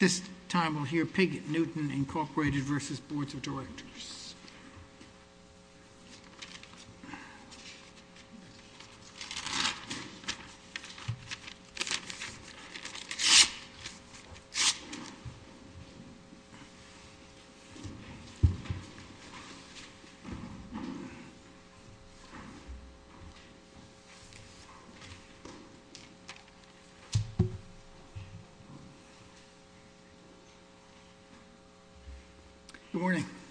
Directors.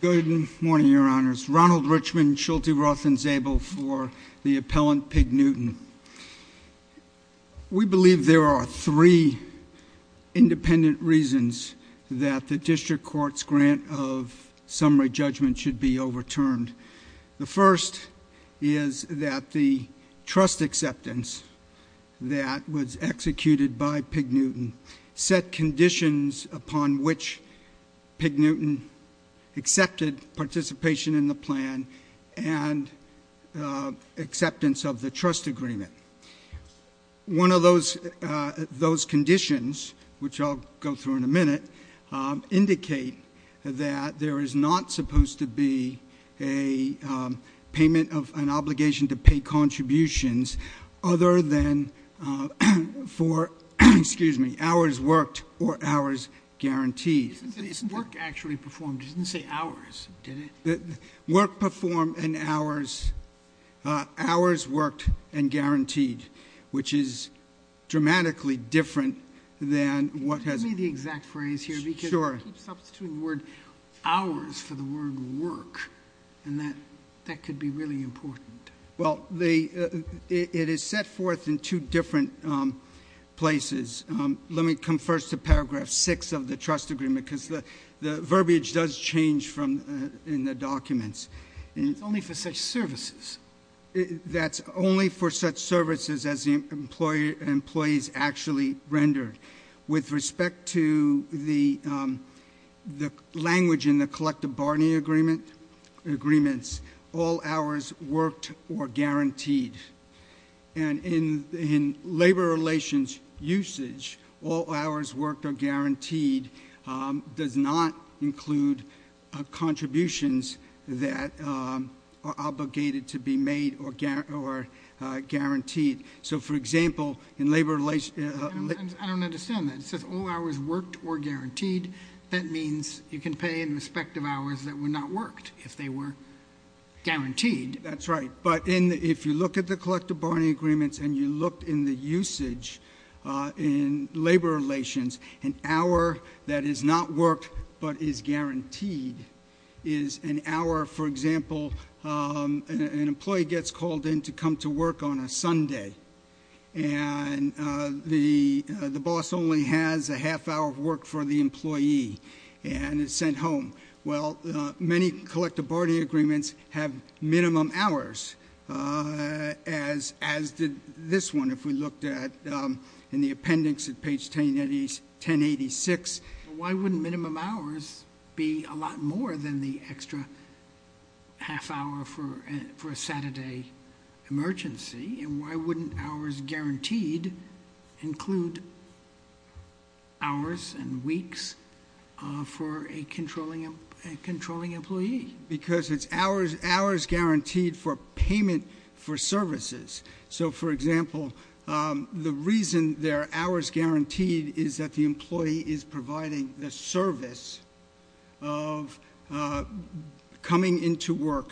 Good morning, Your Honors. Ronald Richmond, Shulte, Roth, and Zabel for the appellant Pig Newton. We believe there are three independent reasons that the District Court's grant of summary judgment should be overturned. The first is that the trust acceptance that was upon which Pig Newton accepted participation in the plan and acceptance of the trust agreement. One of those conditions, which I'll go through in a minute, indicate that there is not supposed to be a payment of an obligation to pay contributions other than for hours worked or hours guaranteed. Isn't it work actually performed? It didn't say hours, did it? Work performed and hours worked and guaranteed, which is dramatically different than what has... Give me the exact phrase here. Sure. Because you keep substituting the word hours for the word work, and that could be really important. Well, it is set forth in two different places. Let me come first to paragraph 6 of the trust agreement because the verbiage does change in the documents. It's only for such services. That's only for such services as the employees actually rendered. With respect to the language in the collective bargaining agreements, all hours worked or guaranteed. In labor relations usage, all hours worked or guaranteed does not include contributions that are obligated to be made or guaranteed. For example, in labor relations... I don't understand that. It says all hours worked or guaranteed. That means you can pay in respect of hours that were not worked if they were guaranteed. That's right. If you look at the collective bargaining agreements and you look in the usage in labor relations, an hour that is not worked but is guaranteed is an hour, for example, an employee gets called in to come to work on a Sunday, and the boss only has a half hour of work for the employee and is sent home. Well, many collective bargaining agreements have minimum hours, as did this one, if we looked at in the appendix at page 1086. Why wouldn't minimum hours be a lot more than the extra half hour for a Saturday emergency? Why wouldn't hours guaranteed include hours and weeks for a controlling employee? Because it's hours guaranteed for payment for services. For example, the reason there are hours guaranteed is that the employee is providing the service of coming in to work.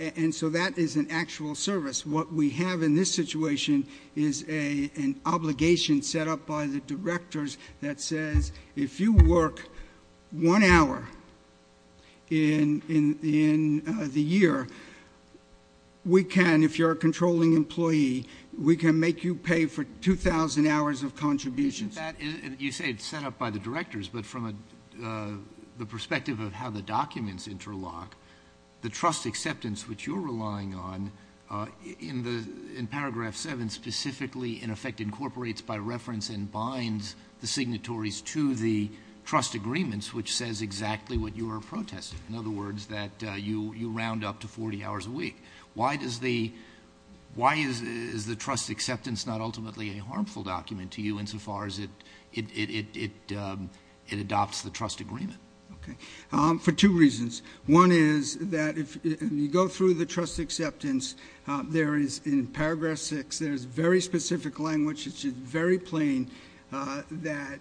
And so that is an actual service. What we have in this situation is an obligation set up by the directors that says if you work one hour in the year, we can, if you're a controlling employee, we can make you pay for 2,000 hours of contributions. You say it's set up by the directors, but from the perspective of how the documents interlock, the trust acceptance, which you're relying on, in paragraph 7, specifically, in effect, incorporates by reference and binds the signatories to the trust agreements, which says exactly what you are protesting. In other words, that you round up to 40 hours a week. Why is the trust acceptance not ultimately a harmful document to you insofar as it adopts the trust agreement? For two reasons. One is that if you go through the trust acceptance, there is in paragraph 6, there is very specific language, which is very plain, that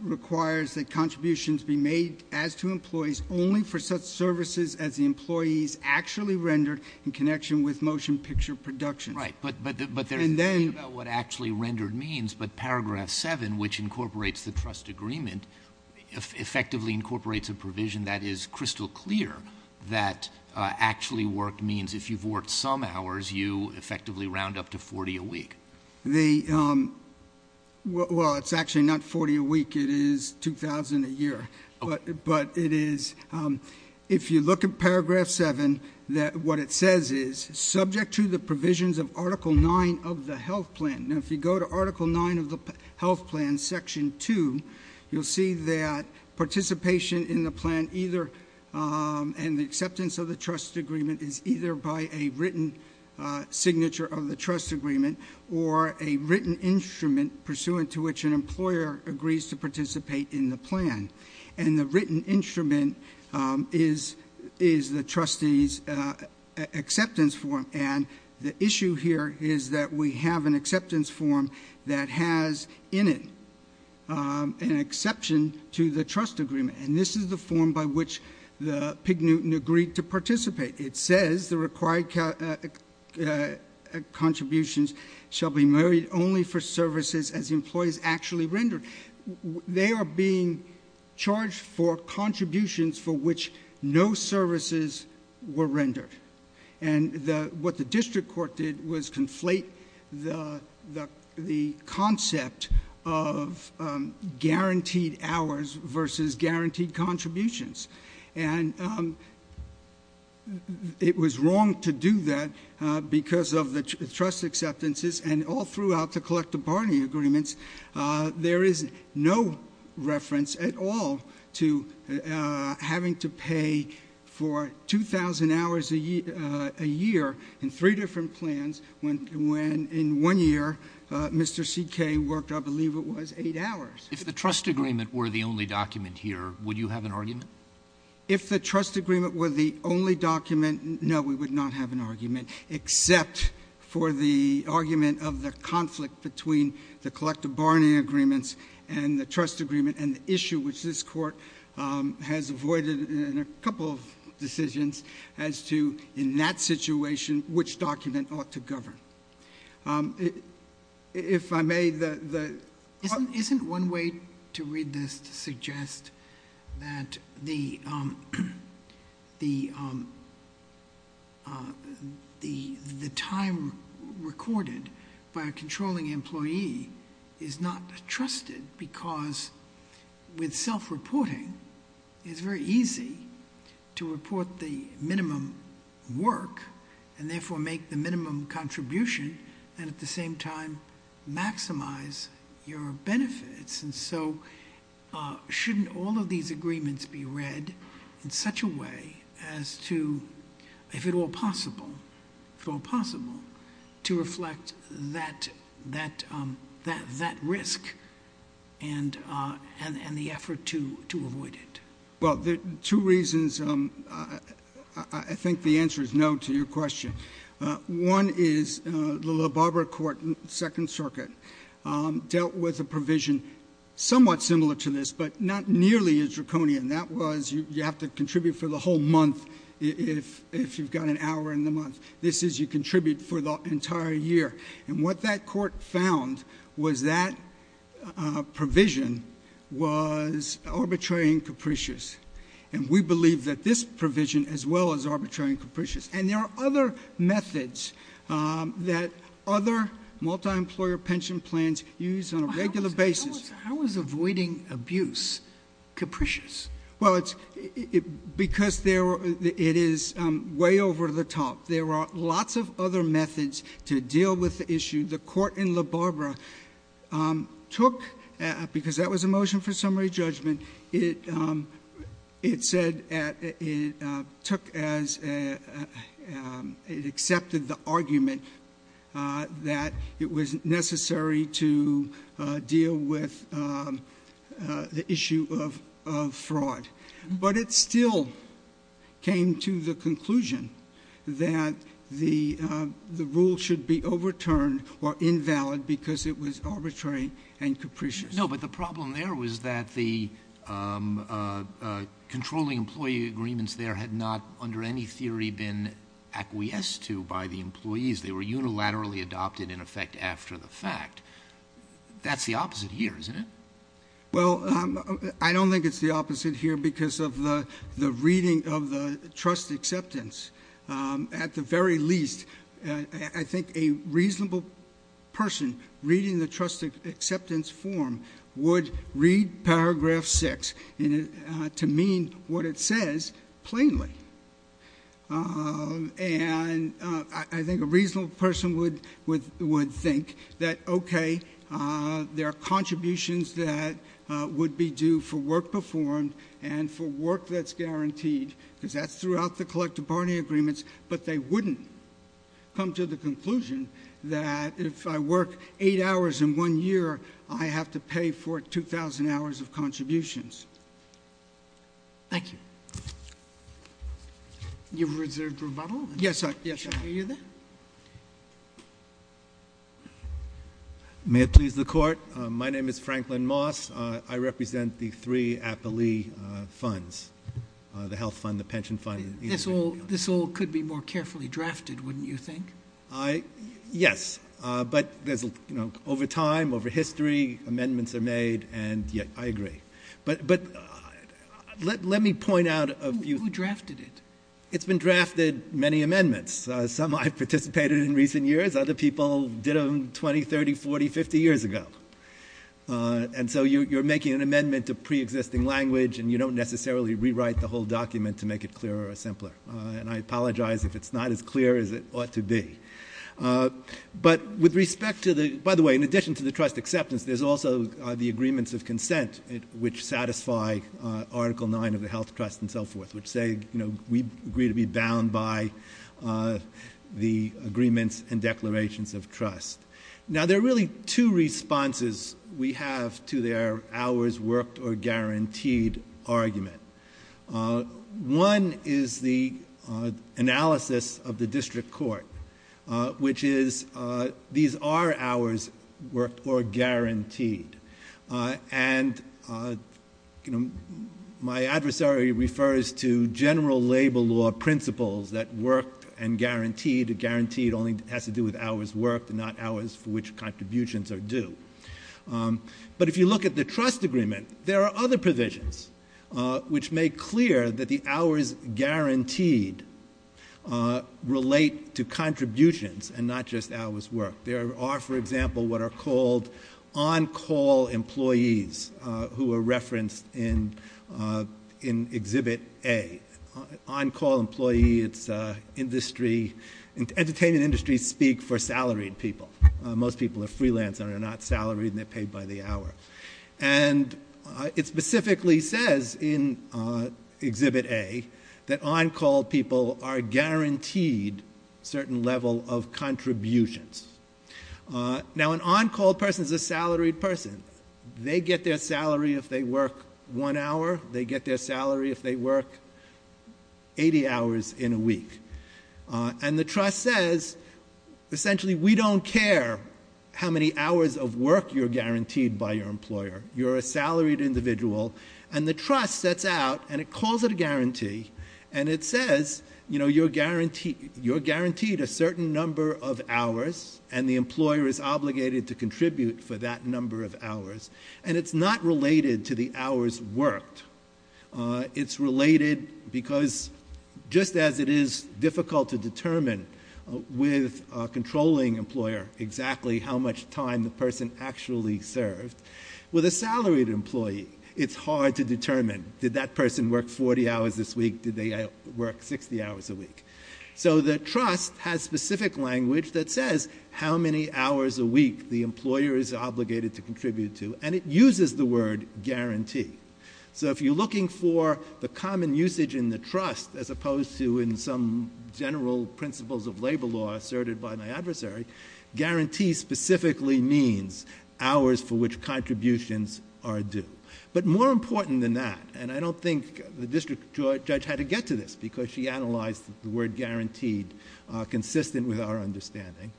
requires that contributions be made as to employees only for such services as the employees actually rendered in connection with motion picture production. Right. But there's a thing about what actually rendered means, but paragraph 7, which incorporates the trust agreement, effectively incorporates a provision that is crystal clear, that actually worked means if you've worked some hours, you effectively round up to 40 a week. Well, it's actually not 40 a week. It is 2,000 a year. But it is, if you look at paragraph 7, what it says is, subject to the provisions of article 9 of the health plan, if you go to article 9 of the health plan, section 2, you'll see that participation in the plan either, and the acceptance of the trust agreement is either by a written signature of the trust agreement or a written instrument pursuant to which an employer agrees to participate in the plan. And the written instrument is the trustee's acceptance form. And the issue here is that we have an acceptance form that has in it an exception to the trust agreement. And this is the form by which the pig Newton agreed to participate. It says the required contributions shall be made only for services as employees actually rendered. They are being charged for contributions for which no services were rendered. And what the district court did was conflate the concept of guaranteed hours versus guaranteed contributions. And it was wrong to do that because of the trust acceptances and all throughout the collective bargaining agreements, there is no reference at all to having to pay for 2,000 hours a year in three different plans when in one year Mr. C.K. worked, I believe it was, 8 hours. If the trust agreement were the only document here, would you have an argument? If the trust agreement were the only document, no, we would not have an argument except for the argument of the conflict between the collective bargaining agreements and the trust agreement and the issue which this court has avoided in a couple of decisions as to in that situation which document ought to govern. If I may, the... Isn't one way to read this to suggest that the time recorded by a controlling employee is not trusted because with self-reporting, it's very easy to report the minimum work and therefore make the minimum contribution and at the same time maximize your benefits. And so shouldn't all of these agreements be read in such a way as to, if at all possible, to reflect that risk and the effort to avoid it? Well, there are two reasons. I think the answer is no to your question. One is the LaBarbera Court in the Second Circuit dealt with a provision somewhat similar to this but not nearly as draconian. That was you have to contribute for the whole month if you've got an employment. This is you contribute for the entire year. And what that court found was that provision was arbitrary and capricious. And we believe that this provision as well as arbitrary and capricious. And there are other methods that other multi-employer pension plans use on a regular basis. How is avoiding abuse capricious? Well, because it is way over the top. There are lots of other methods to deal with the issue. The court in LaBarbera took, because that was a motion for summary judgment, it accepted the but it still came to the conclusion that the rule should be overturned or invalid because it was arbitrary and capricious. No, but the problem there was that the controlling employee agreements there had not under any theory been acquiesced to by the employees. They were unilaterally adopted in effect after the fact. That's the opposite here, Well, I don't think it's the opposite here because of the reading of the trust acceptance. At the very least, I think a reasonable person reading the trust acceptance form would read paragraph six to mean what it says plainly. And I think a reasonable person would think that, okay, there are contributions that would be due for work performed and for work that's guaranteed because that's throughout the collective bargaining agreements. But they wouldn't come to the conclusion that if I work eight hours in one year, I have to pay for 2,000 hours of contributions. Thank you. You've reserved rebuttal? Yes. May it please the court. My name is Franklin Moss. I represent the three appellee funds, the health fund, the pension fund. This all could be more carefully drafted, wouldn't you think? Yes, but there's, you know, over time, over history, amendments are made and yeah, I agree. But let me point out a few. Who drafted it? It's been drafted many amendments. Some I've participated in recent years. Other people did them 20, 30, 40, 50 years ago. And so you're making an amendment to preexisting language and you don't necessarily rewrite the whole document to make it clearer or with respect to the, by the way, in addition to the trust acceptance, there's also the agreements of consent, which satisfy article nine of the health trust and so forth, which say, you know, we agree to be bound by the agreements and declarations of trust. Now there are really two responses we have to their hours worked or guaranteed argument. One is the analysis of the these are hours worked or guaranteed. And you know, my adversary refers to general labor law principles that work and guaranteed, guaranteed only has to do with hours worked and not hours for which contributions are due. But if you look at the trust agreement, there are other provisions which make clear that the hours guaranteed relate to contributions and not just hours work. There are, for example, what are called on-call employees who are referenced in, in exhibit A. On-call employee, it's a industry, entertainment industries speak for salaried people. Most people are freelance and are not salaried and they're paid by the hour. And it specifically says in exhibit A that on-call people are guaranteed certain level of contributions. Now an on-call person is a salaried person. They get their salary if they work one hour, they get their salary if they work 80 hours in a week. And the trust says, essentially, we don't care how many hours of work you're guaranteed by your employer. You're a salaried individual. And the trust sets out and it calls it a guarantee. And it says, you know, you're guaranteed, you're guaranteed a certain number of hours and the employer is obligated to contribute for that number of hours. And it's not related to the hours worked. It's related because just as it is difficult to determine with a controlling employer exactly how much time the person actually served, with a salaried employee, it's hard to determine. Did that person work 40 hours this week? Did they work 60 hours a week? So the trust has specific language that says how many hours a week the employer is obligated to contribute to. And it you're looking for the common usage in the trust as opposed to in some general principles of labor law asserted by my adversary, guarantee specifically means hours for which contributions are due. But more important than that, and I don't think the district judge had to get to this because she analyzed the word guaranteed consistent with our understanding,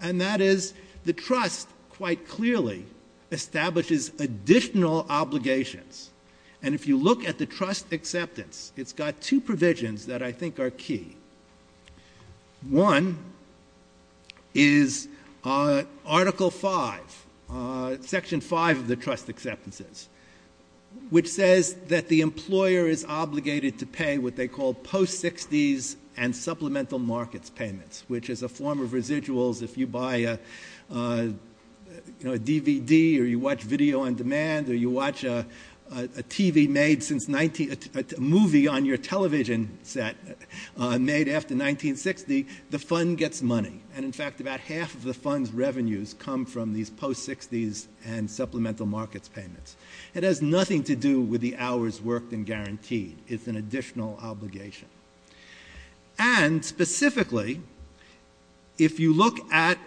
and that is the trust quite clearly establishes additional obligations. And if you look at the trust acceptance, it's got two provisions that I think are key. One is Article 5, Section 5 of the trust acceptances, which says that the employer is obligated to pay what they call post-60s and supplemental markets payments, which is a form of residuals. If you buy a DVD, or you watch video on demand, or you watch a movie on your television set made after 1960, the fund gets money. And in fact, about half of the fund's revenues come from these post-60s and supplemental markets payments. It has nothing to do with the hours worked and guaranteed. It's an additional obligation. And specifically, if you look at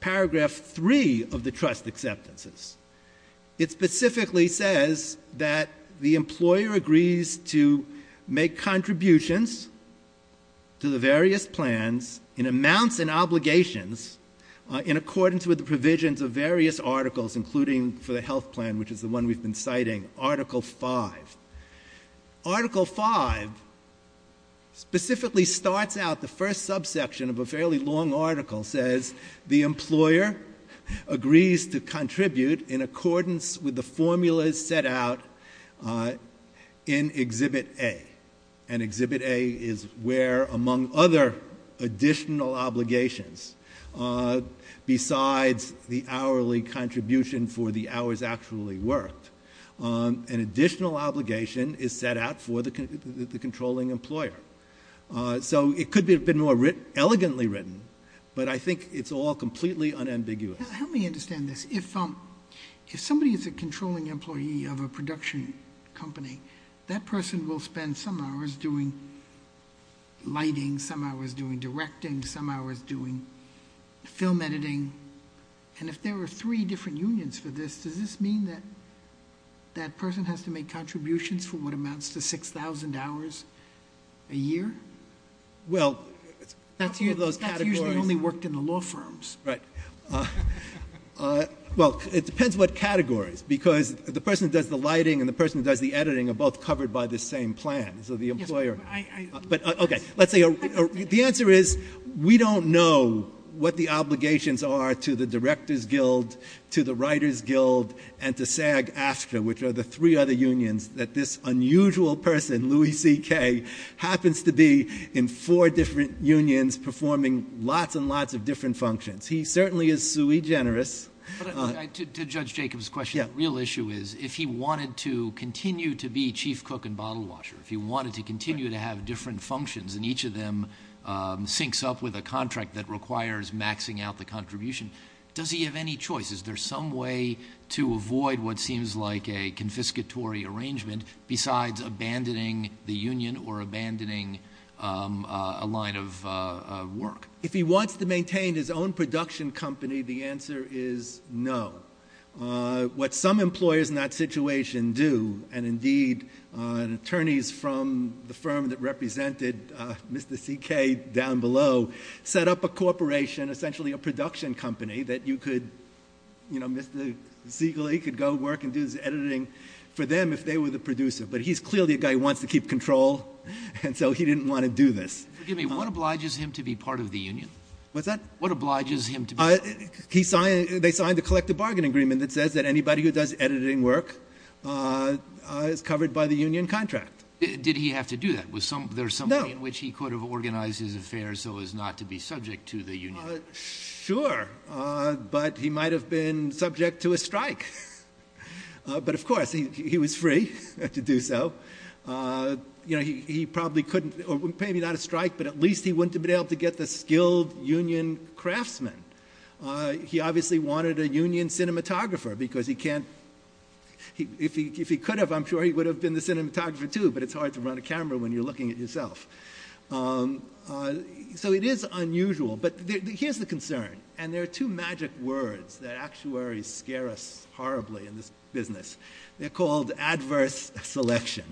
Paragraph 3 of the trust acceptances, it specifically says that the employer agrees to make contributions to the various plans in amounts and obligations in accordance with the provisions of various articles, including for the health plan, which is the one we've been citing, Article 5. Article 5 specifically starts out the first subsection of a fairly long article, says the employer agrees to contribute in accordance with the formulas set out in Exhibit A. And Exhibit A is where, among other additional obligations, besides the hourly contribution for the hours actually worked, an additional obligation is set out for the controlling employer. So it could have been more elegantly written, but I think it's all completely unambiguous. Help me understand this. If somebody is a controlling employee of a production company, that person will spend some hours doing film editing. And if there were three different unions for this, does this mean that that person has to make contributions for what amounts to 6,000 hours a year? Well, that's usually only worked in the law firms. Right. Well, it depends what categories, because the person who does the lighting and the person who does the editing are both covered by the same plan. So the employer... Let's say... The answer is, we don't know what the obligations are to the Director's Guild, to the Writers Guild, and to SAG-ASCA, which are the three other unions that this unusual person, Louis C.K., happens to be in four different unions performing lots and lots of different functions. He certainly is sui generis. To Judge Jacob's question, the real issue is, if he wanted to continue to be chief cook and bottle washer, if he wanted to continue to have different functions and each of them syncs up with a contract that requires maxing out the contribution, does he have any choice? Is there some way to avoid what seems like a confiscatory arrangement besides abandoning the union or abandoning a line of work? If he wants to maintain his own production company, the answer is no. What some employers in that situation do, and indeed attorneys from the firm that represented Mr. C.K. down below, set up a corporation, essentially a production company, that Mr. Ziegle could go work and do editing for them if they were the producer. But he's clearly a guy who wants to keep control, and so he didn't want to do this. Forgive me, what obliges him to be part of the union? What's that? What obliges him to be... They signed a collective bargain agreement that says that anybody who does editing work is covered by the union contract. Did he have to do that? There's some way in which he could have organized his affairs so as not to be subject to the union. Sure, but he might have been subject to a strike. But of course, he was free to do so. You know, he probably couldn't, or maybe not a strike, but at least he wouldn't have been able to get the skilled union craftsman. He obviously wanted a union cinematographer because he can't... If he could have, I'm sure he would have been the cinematographer too, but it's hard to run a camera when you're looking at yourself. So it is unusual, but here's the concern. And there are two magic words that actuaries scare us horribly in this business. They're called adverse selection.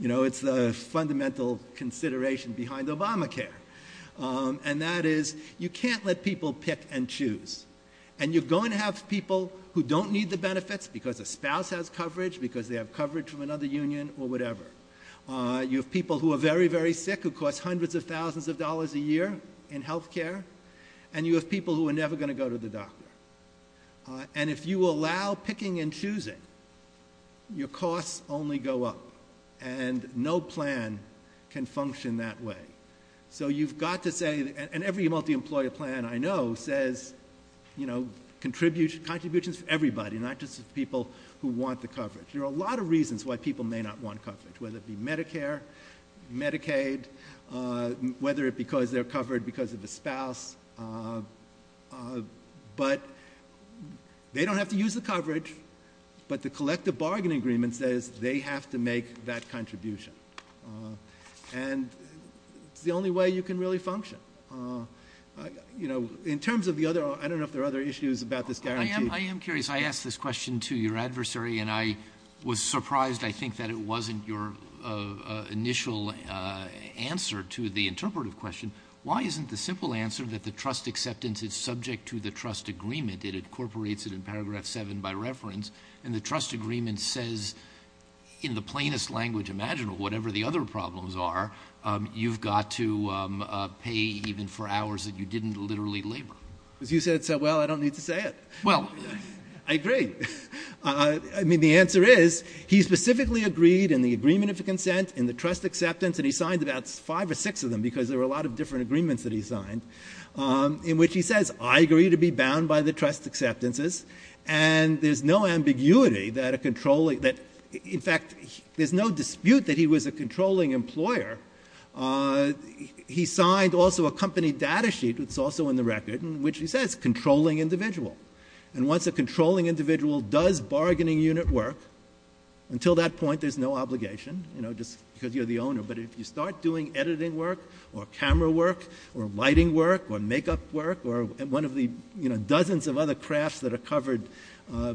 You know, it's the fundamental consideration behind Obamacare. And that is, you can't let people pick and choose. And you're going to have people who don't need the benefits because a spouse has coverage, because they have coverage from another union, or whatever. You have people who are very, very sick, who cost hundreds of thousands of dollars a year in health care. And you have people who are never going to go to the doctor. And if you allow picking and choosing, your costs only go up. And no plan can function that way. So you've got to say, and every multi-employer plan I know says, you know, contributions for everybody, not just people who want the coverage. There are a lot of reasons why people may not want coverage, whether it be Medicare, Medicaid, whether it's because they're covered because of a spouse. But they don't have to use the coverage. But the collective bargaining agreement says they have to make that contribution. And it's the only way you can really function. You know, in terms of the other, I don't know if there are other issues about this guarantee. I am curious. I asked this question to your adversary. And I was surprised, I think, that it wasn't your initial answer to the interpretive question. Why isn't the simple answer that the trust acceptance is subject to the trust agreement? It incorporates it in paragraph seven by reference. And the trust agreement says, in the plainest language imaginable, whatever the other problems are, you've got to pay even for hours that you didn't literally labor. Because you said so well, I don't need to say it. Well, I agree. I mean, the answer is, he specifically agreed in the agreement of consent in the trust acceptance, and he signed about five or six of them, because there were a lot of different agreements that he signed, in which he says, I agree to be bound by the trust acceptances. And there's no ambiguity that a controlling, that, in fact, there's no dispute that he was a controlling employer. He signed also a company data sheet, which is also in the record, which he says controlling individual. And once a controlling individual does bargaining unit work, until that point, there's no obligation, you know, just because you're the owner. But if you start doing editing work, or camera work, or lighting work, or makeup work, one of the dozens of other crafts that are covered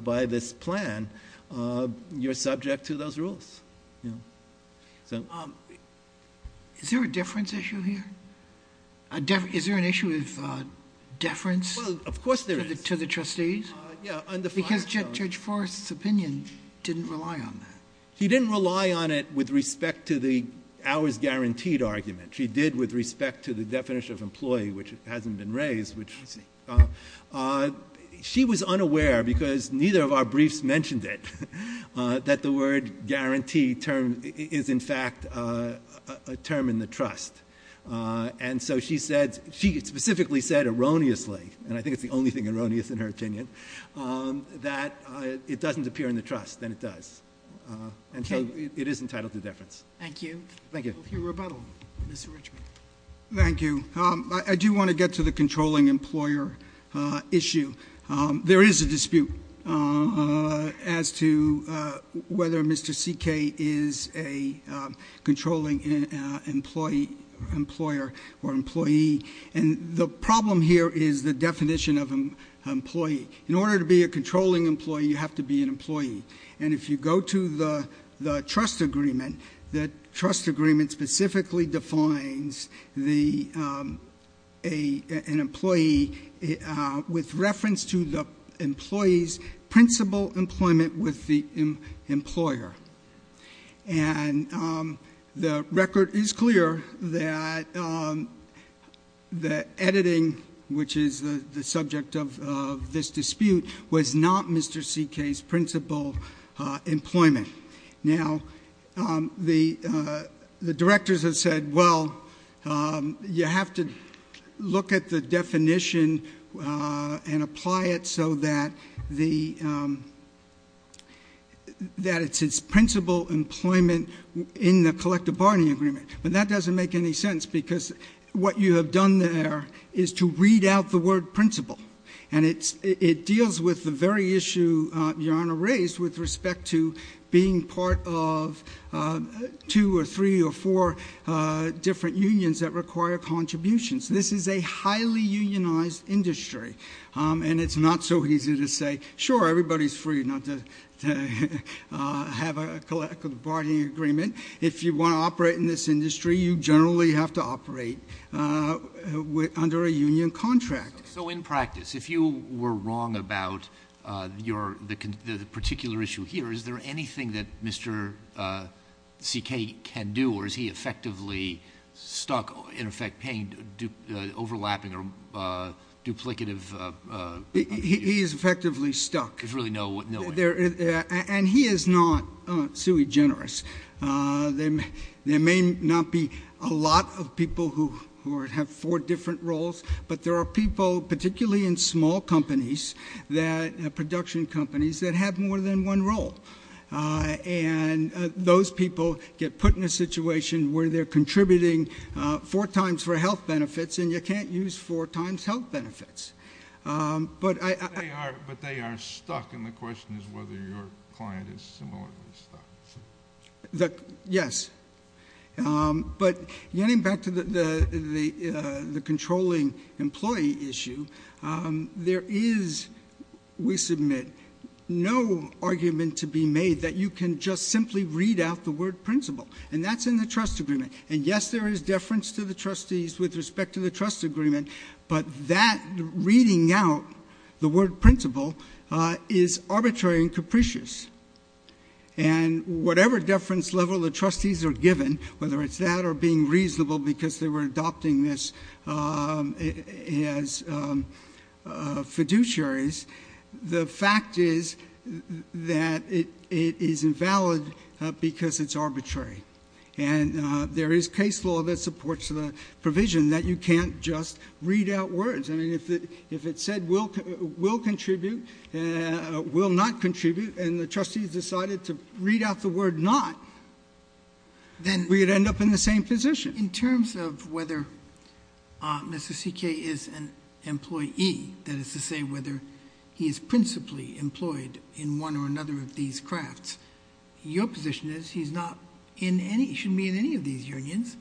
by this plan, you're subject to those rules. Is there a deference issue here? Is there an issue of deference? Well, of course there is. To the trustees? Yeah. Because Judge Forrest's opinion didn't rely on that. He didn't rely on it with respect to the hours guaranteed argument. He did with respect to the definition of employee, which hasn't been raised. She was unaware, because neither of our briefs mentioned it, that the word guarantee is, in fact, a term in the trust. And so she said, she specifically said erroneously, and I think it's the only thing erroneous in her opinion, that it doesn't appear in the trust, and it does. And so it is entitled to deference. Thank you. Thank you. We'll hear rebuttal. Mr. Richmond. Thank you. I do want to get to the controlling employer issue. There is a dispute as to whether Mr. CK is a controlling employer or employee. And the problem here is the definition of employee. In order to be a controlling employee, you have to be an employee. And if you go to the trust agreement, the trust agreement specifically defines an employee with reference to the employee's principal employment with the employer. And the record is clear that the editing, which is the subject of this dispute, was not Mr. CK's principal employment. Now, the directors have said, well, you have to look at the definition and apply it so that it's principal employment in the collective bargaining agreement. But that doesn't make any sense because what you have done there is to read out the word principal. And it deals with the very issue Your Honor raised with respect to being part of two or three or four different unions that require contributions. This is a highly unionized industry. And it's not so easy to say, sure, everybody's free not to have a collective bargaining agreement. If you want to operate in this industry, you generally have to operate under a union contract. So in practice, if you were wrong about the particular issue here, is there anything that Mr. CK can do? Or is he effectively stuck, in effect, paying overlapping or duplicative? He is effectively stuck. There's really no way? And he is not sui generis. There may not be a lot of people who have four different roles, but there are people, particularly in small companies, production companies, that have more than one role. And those people get put in a situation where they're contributing four times for health benefits, and you can't use four times health benefits. But they are stuck. And the question is whether your client is similarly stuck. Yes. But getting back to the controlling employee issue, there is, we submit, no argument to be made that you can just simply read out the word principle. And that's in the trust agreement. And yes, there is deference to the trustees with respect to the trust agreement, but that reading out the word principle is arbitrary and capricious. And whatever deference level the trustees are given, whether it's that or being reasonable because they were adopting this as fiduciaries, the fact is that it is invalid because it's arbitrary. And there is case law that supports the provision that you can't just read out words. I mean, if it said will contribute, will not contribute, and the trustees decided to read out the word not, we'd end up in the same position. In terms of whether Mr. CK is an employee, that is to say whether he is principally employed in one or another of these crafts, your position is he's not in any, he shouldn't be in any of these unions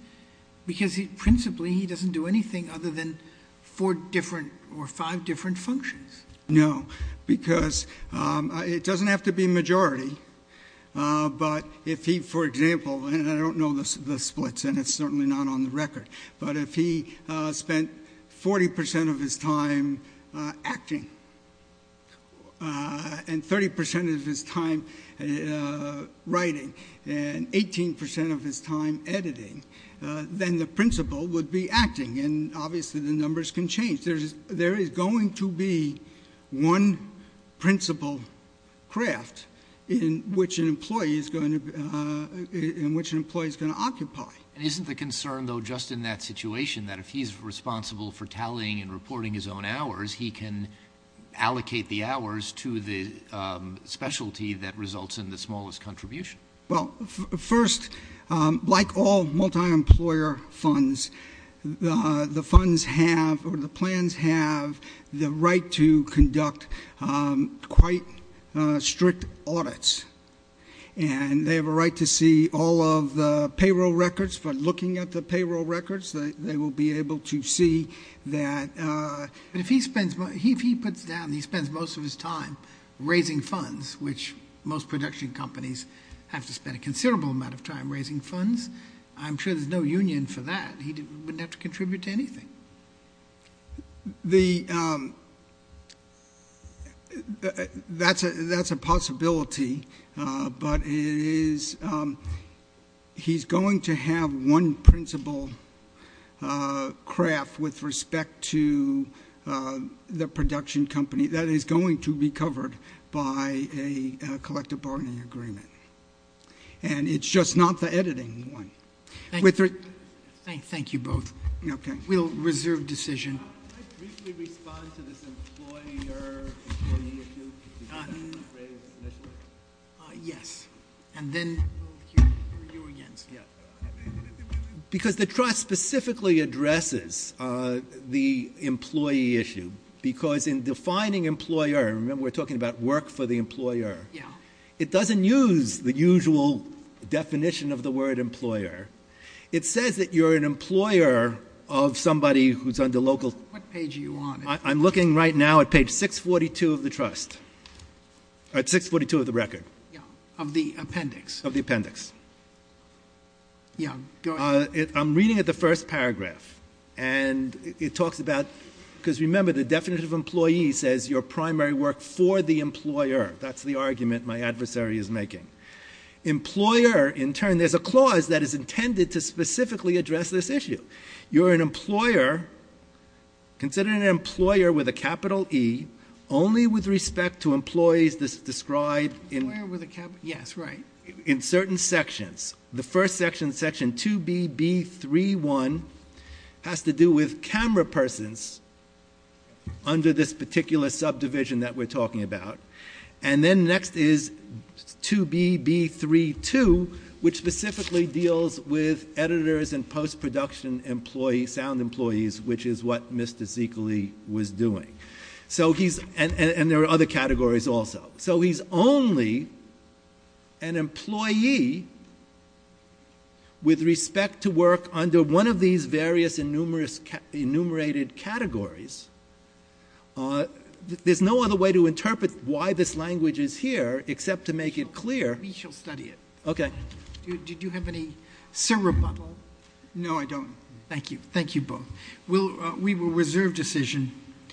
because principally he doesn't do anything other than four different or five different functions. No, because it doesn't have to be majority. But if he, for example, and I don't know the splits and it's certainly not on the record, but if he spent 40% of his time acting and 30% of his time writing and 18% of his time editing, then the principle would be acting. And obviously the numbers can change. There is going to be one principle craft in which an employee is going to occupy. And isn't the concern, though, just in that situation, that if he's responsible for tallying and reporting his own hours, he can allocate the hours to the specialty that results in the smallest contribution? Well, first, like all multi-employer funds, the funds have, or the plans have, the right to conduct quite strict audits. And they have a right to see all of the payroll records. By looking at the payroll records, they will be able to see that. But if he spends, if he puts down, he spends most of his time raising funds, which most production companies have to spend a considerable amount of time raising funds, I'm sure there's no union for that. He wouldn't have to contribute to anything. The, that's a possibility. But it is, he's going to have one principle craft with respect to the production company that is going to be covered by a collective bargaining agreement. And it's just not the editing one. Thank you both. We'll reserve decision. Can I briefly respond to this employer-employee issue? Yes, and then we'll hear you again. Because the trust specifically addresses the employee issue. Because in defining employer, remember, we're talking about work for the employer. Yeah. It doesn't use the usual definition of the word employer. It says that you're an employer of somebody who's under local. What page are you on? I'm looking right now at page 642 of the trust. At 642 of the record. Yeah. Of the appendix. Of the appendix. Yeah, go ahead. I'm reading at the first paragraph. And it talks about, because remember, the definition of employee says your primary work for the employer. That's the argument my adversary is making. Employer, in turn, there's a clause that is intended to specifically address this issue. You're an employer, consider an employer with a capital E, only with respect to employees that's described in. Employer with a capital, yes, right. In certain sections. The first section, section 2BB31 has to do with camera persons under this particular subdivision that we're talking about. And then next is 2BB32, which specifically deals with editors and post-production employees, sound employees, which is what Mr. Zekely was doing. So he's, and there are other categories also. So he's only an employee with respect to work under one of these various enumerated categories. There's no other way to interpret why this language is here except to make it clear. We shall study it. Okay. Did you have any syrup bottle? No, I don't. Thank you. Thank you both. We will reserve decision.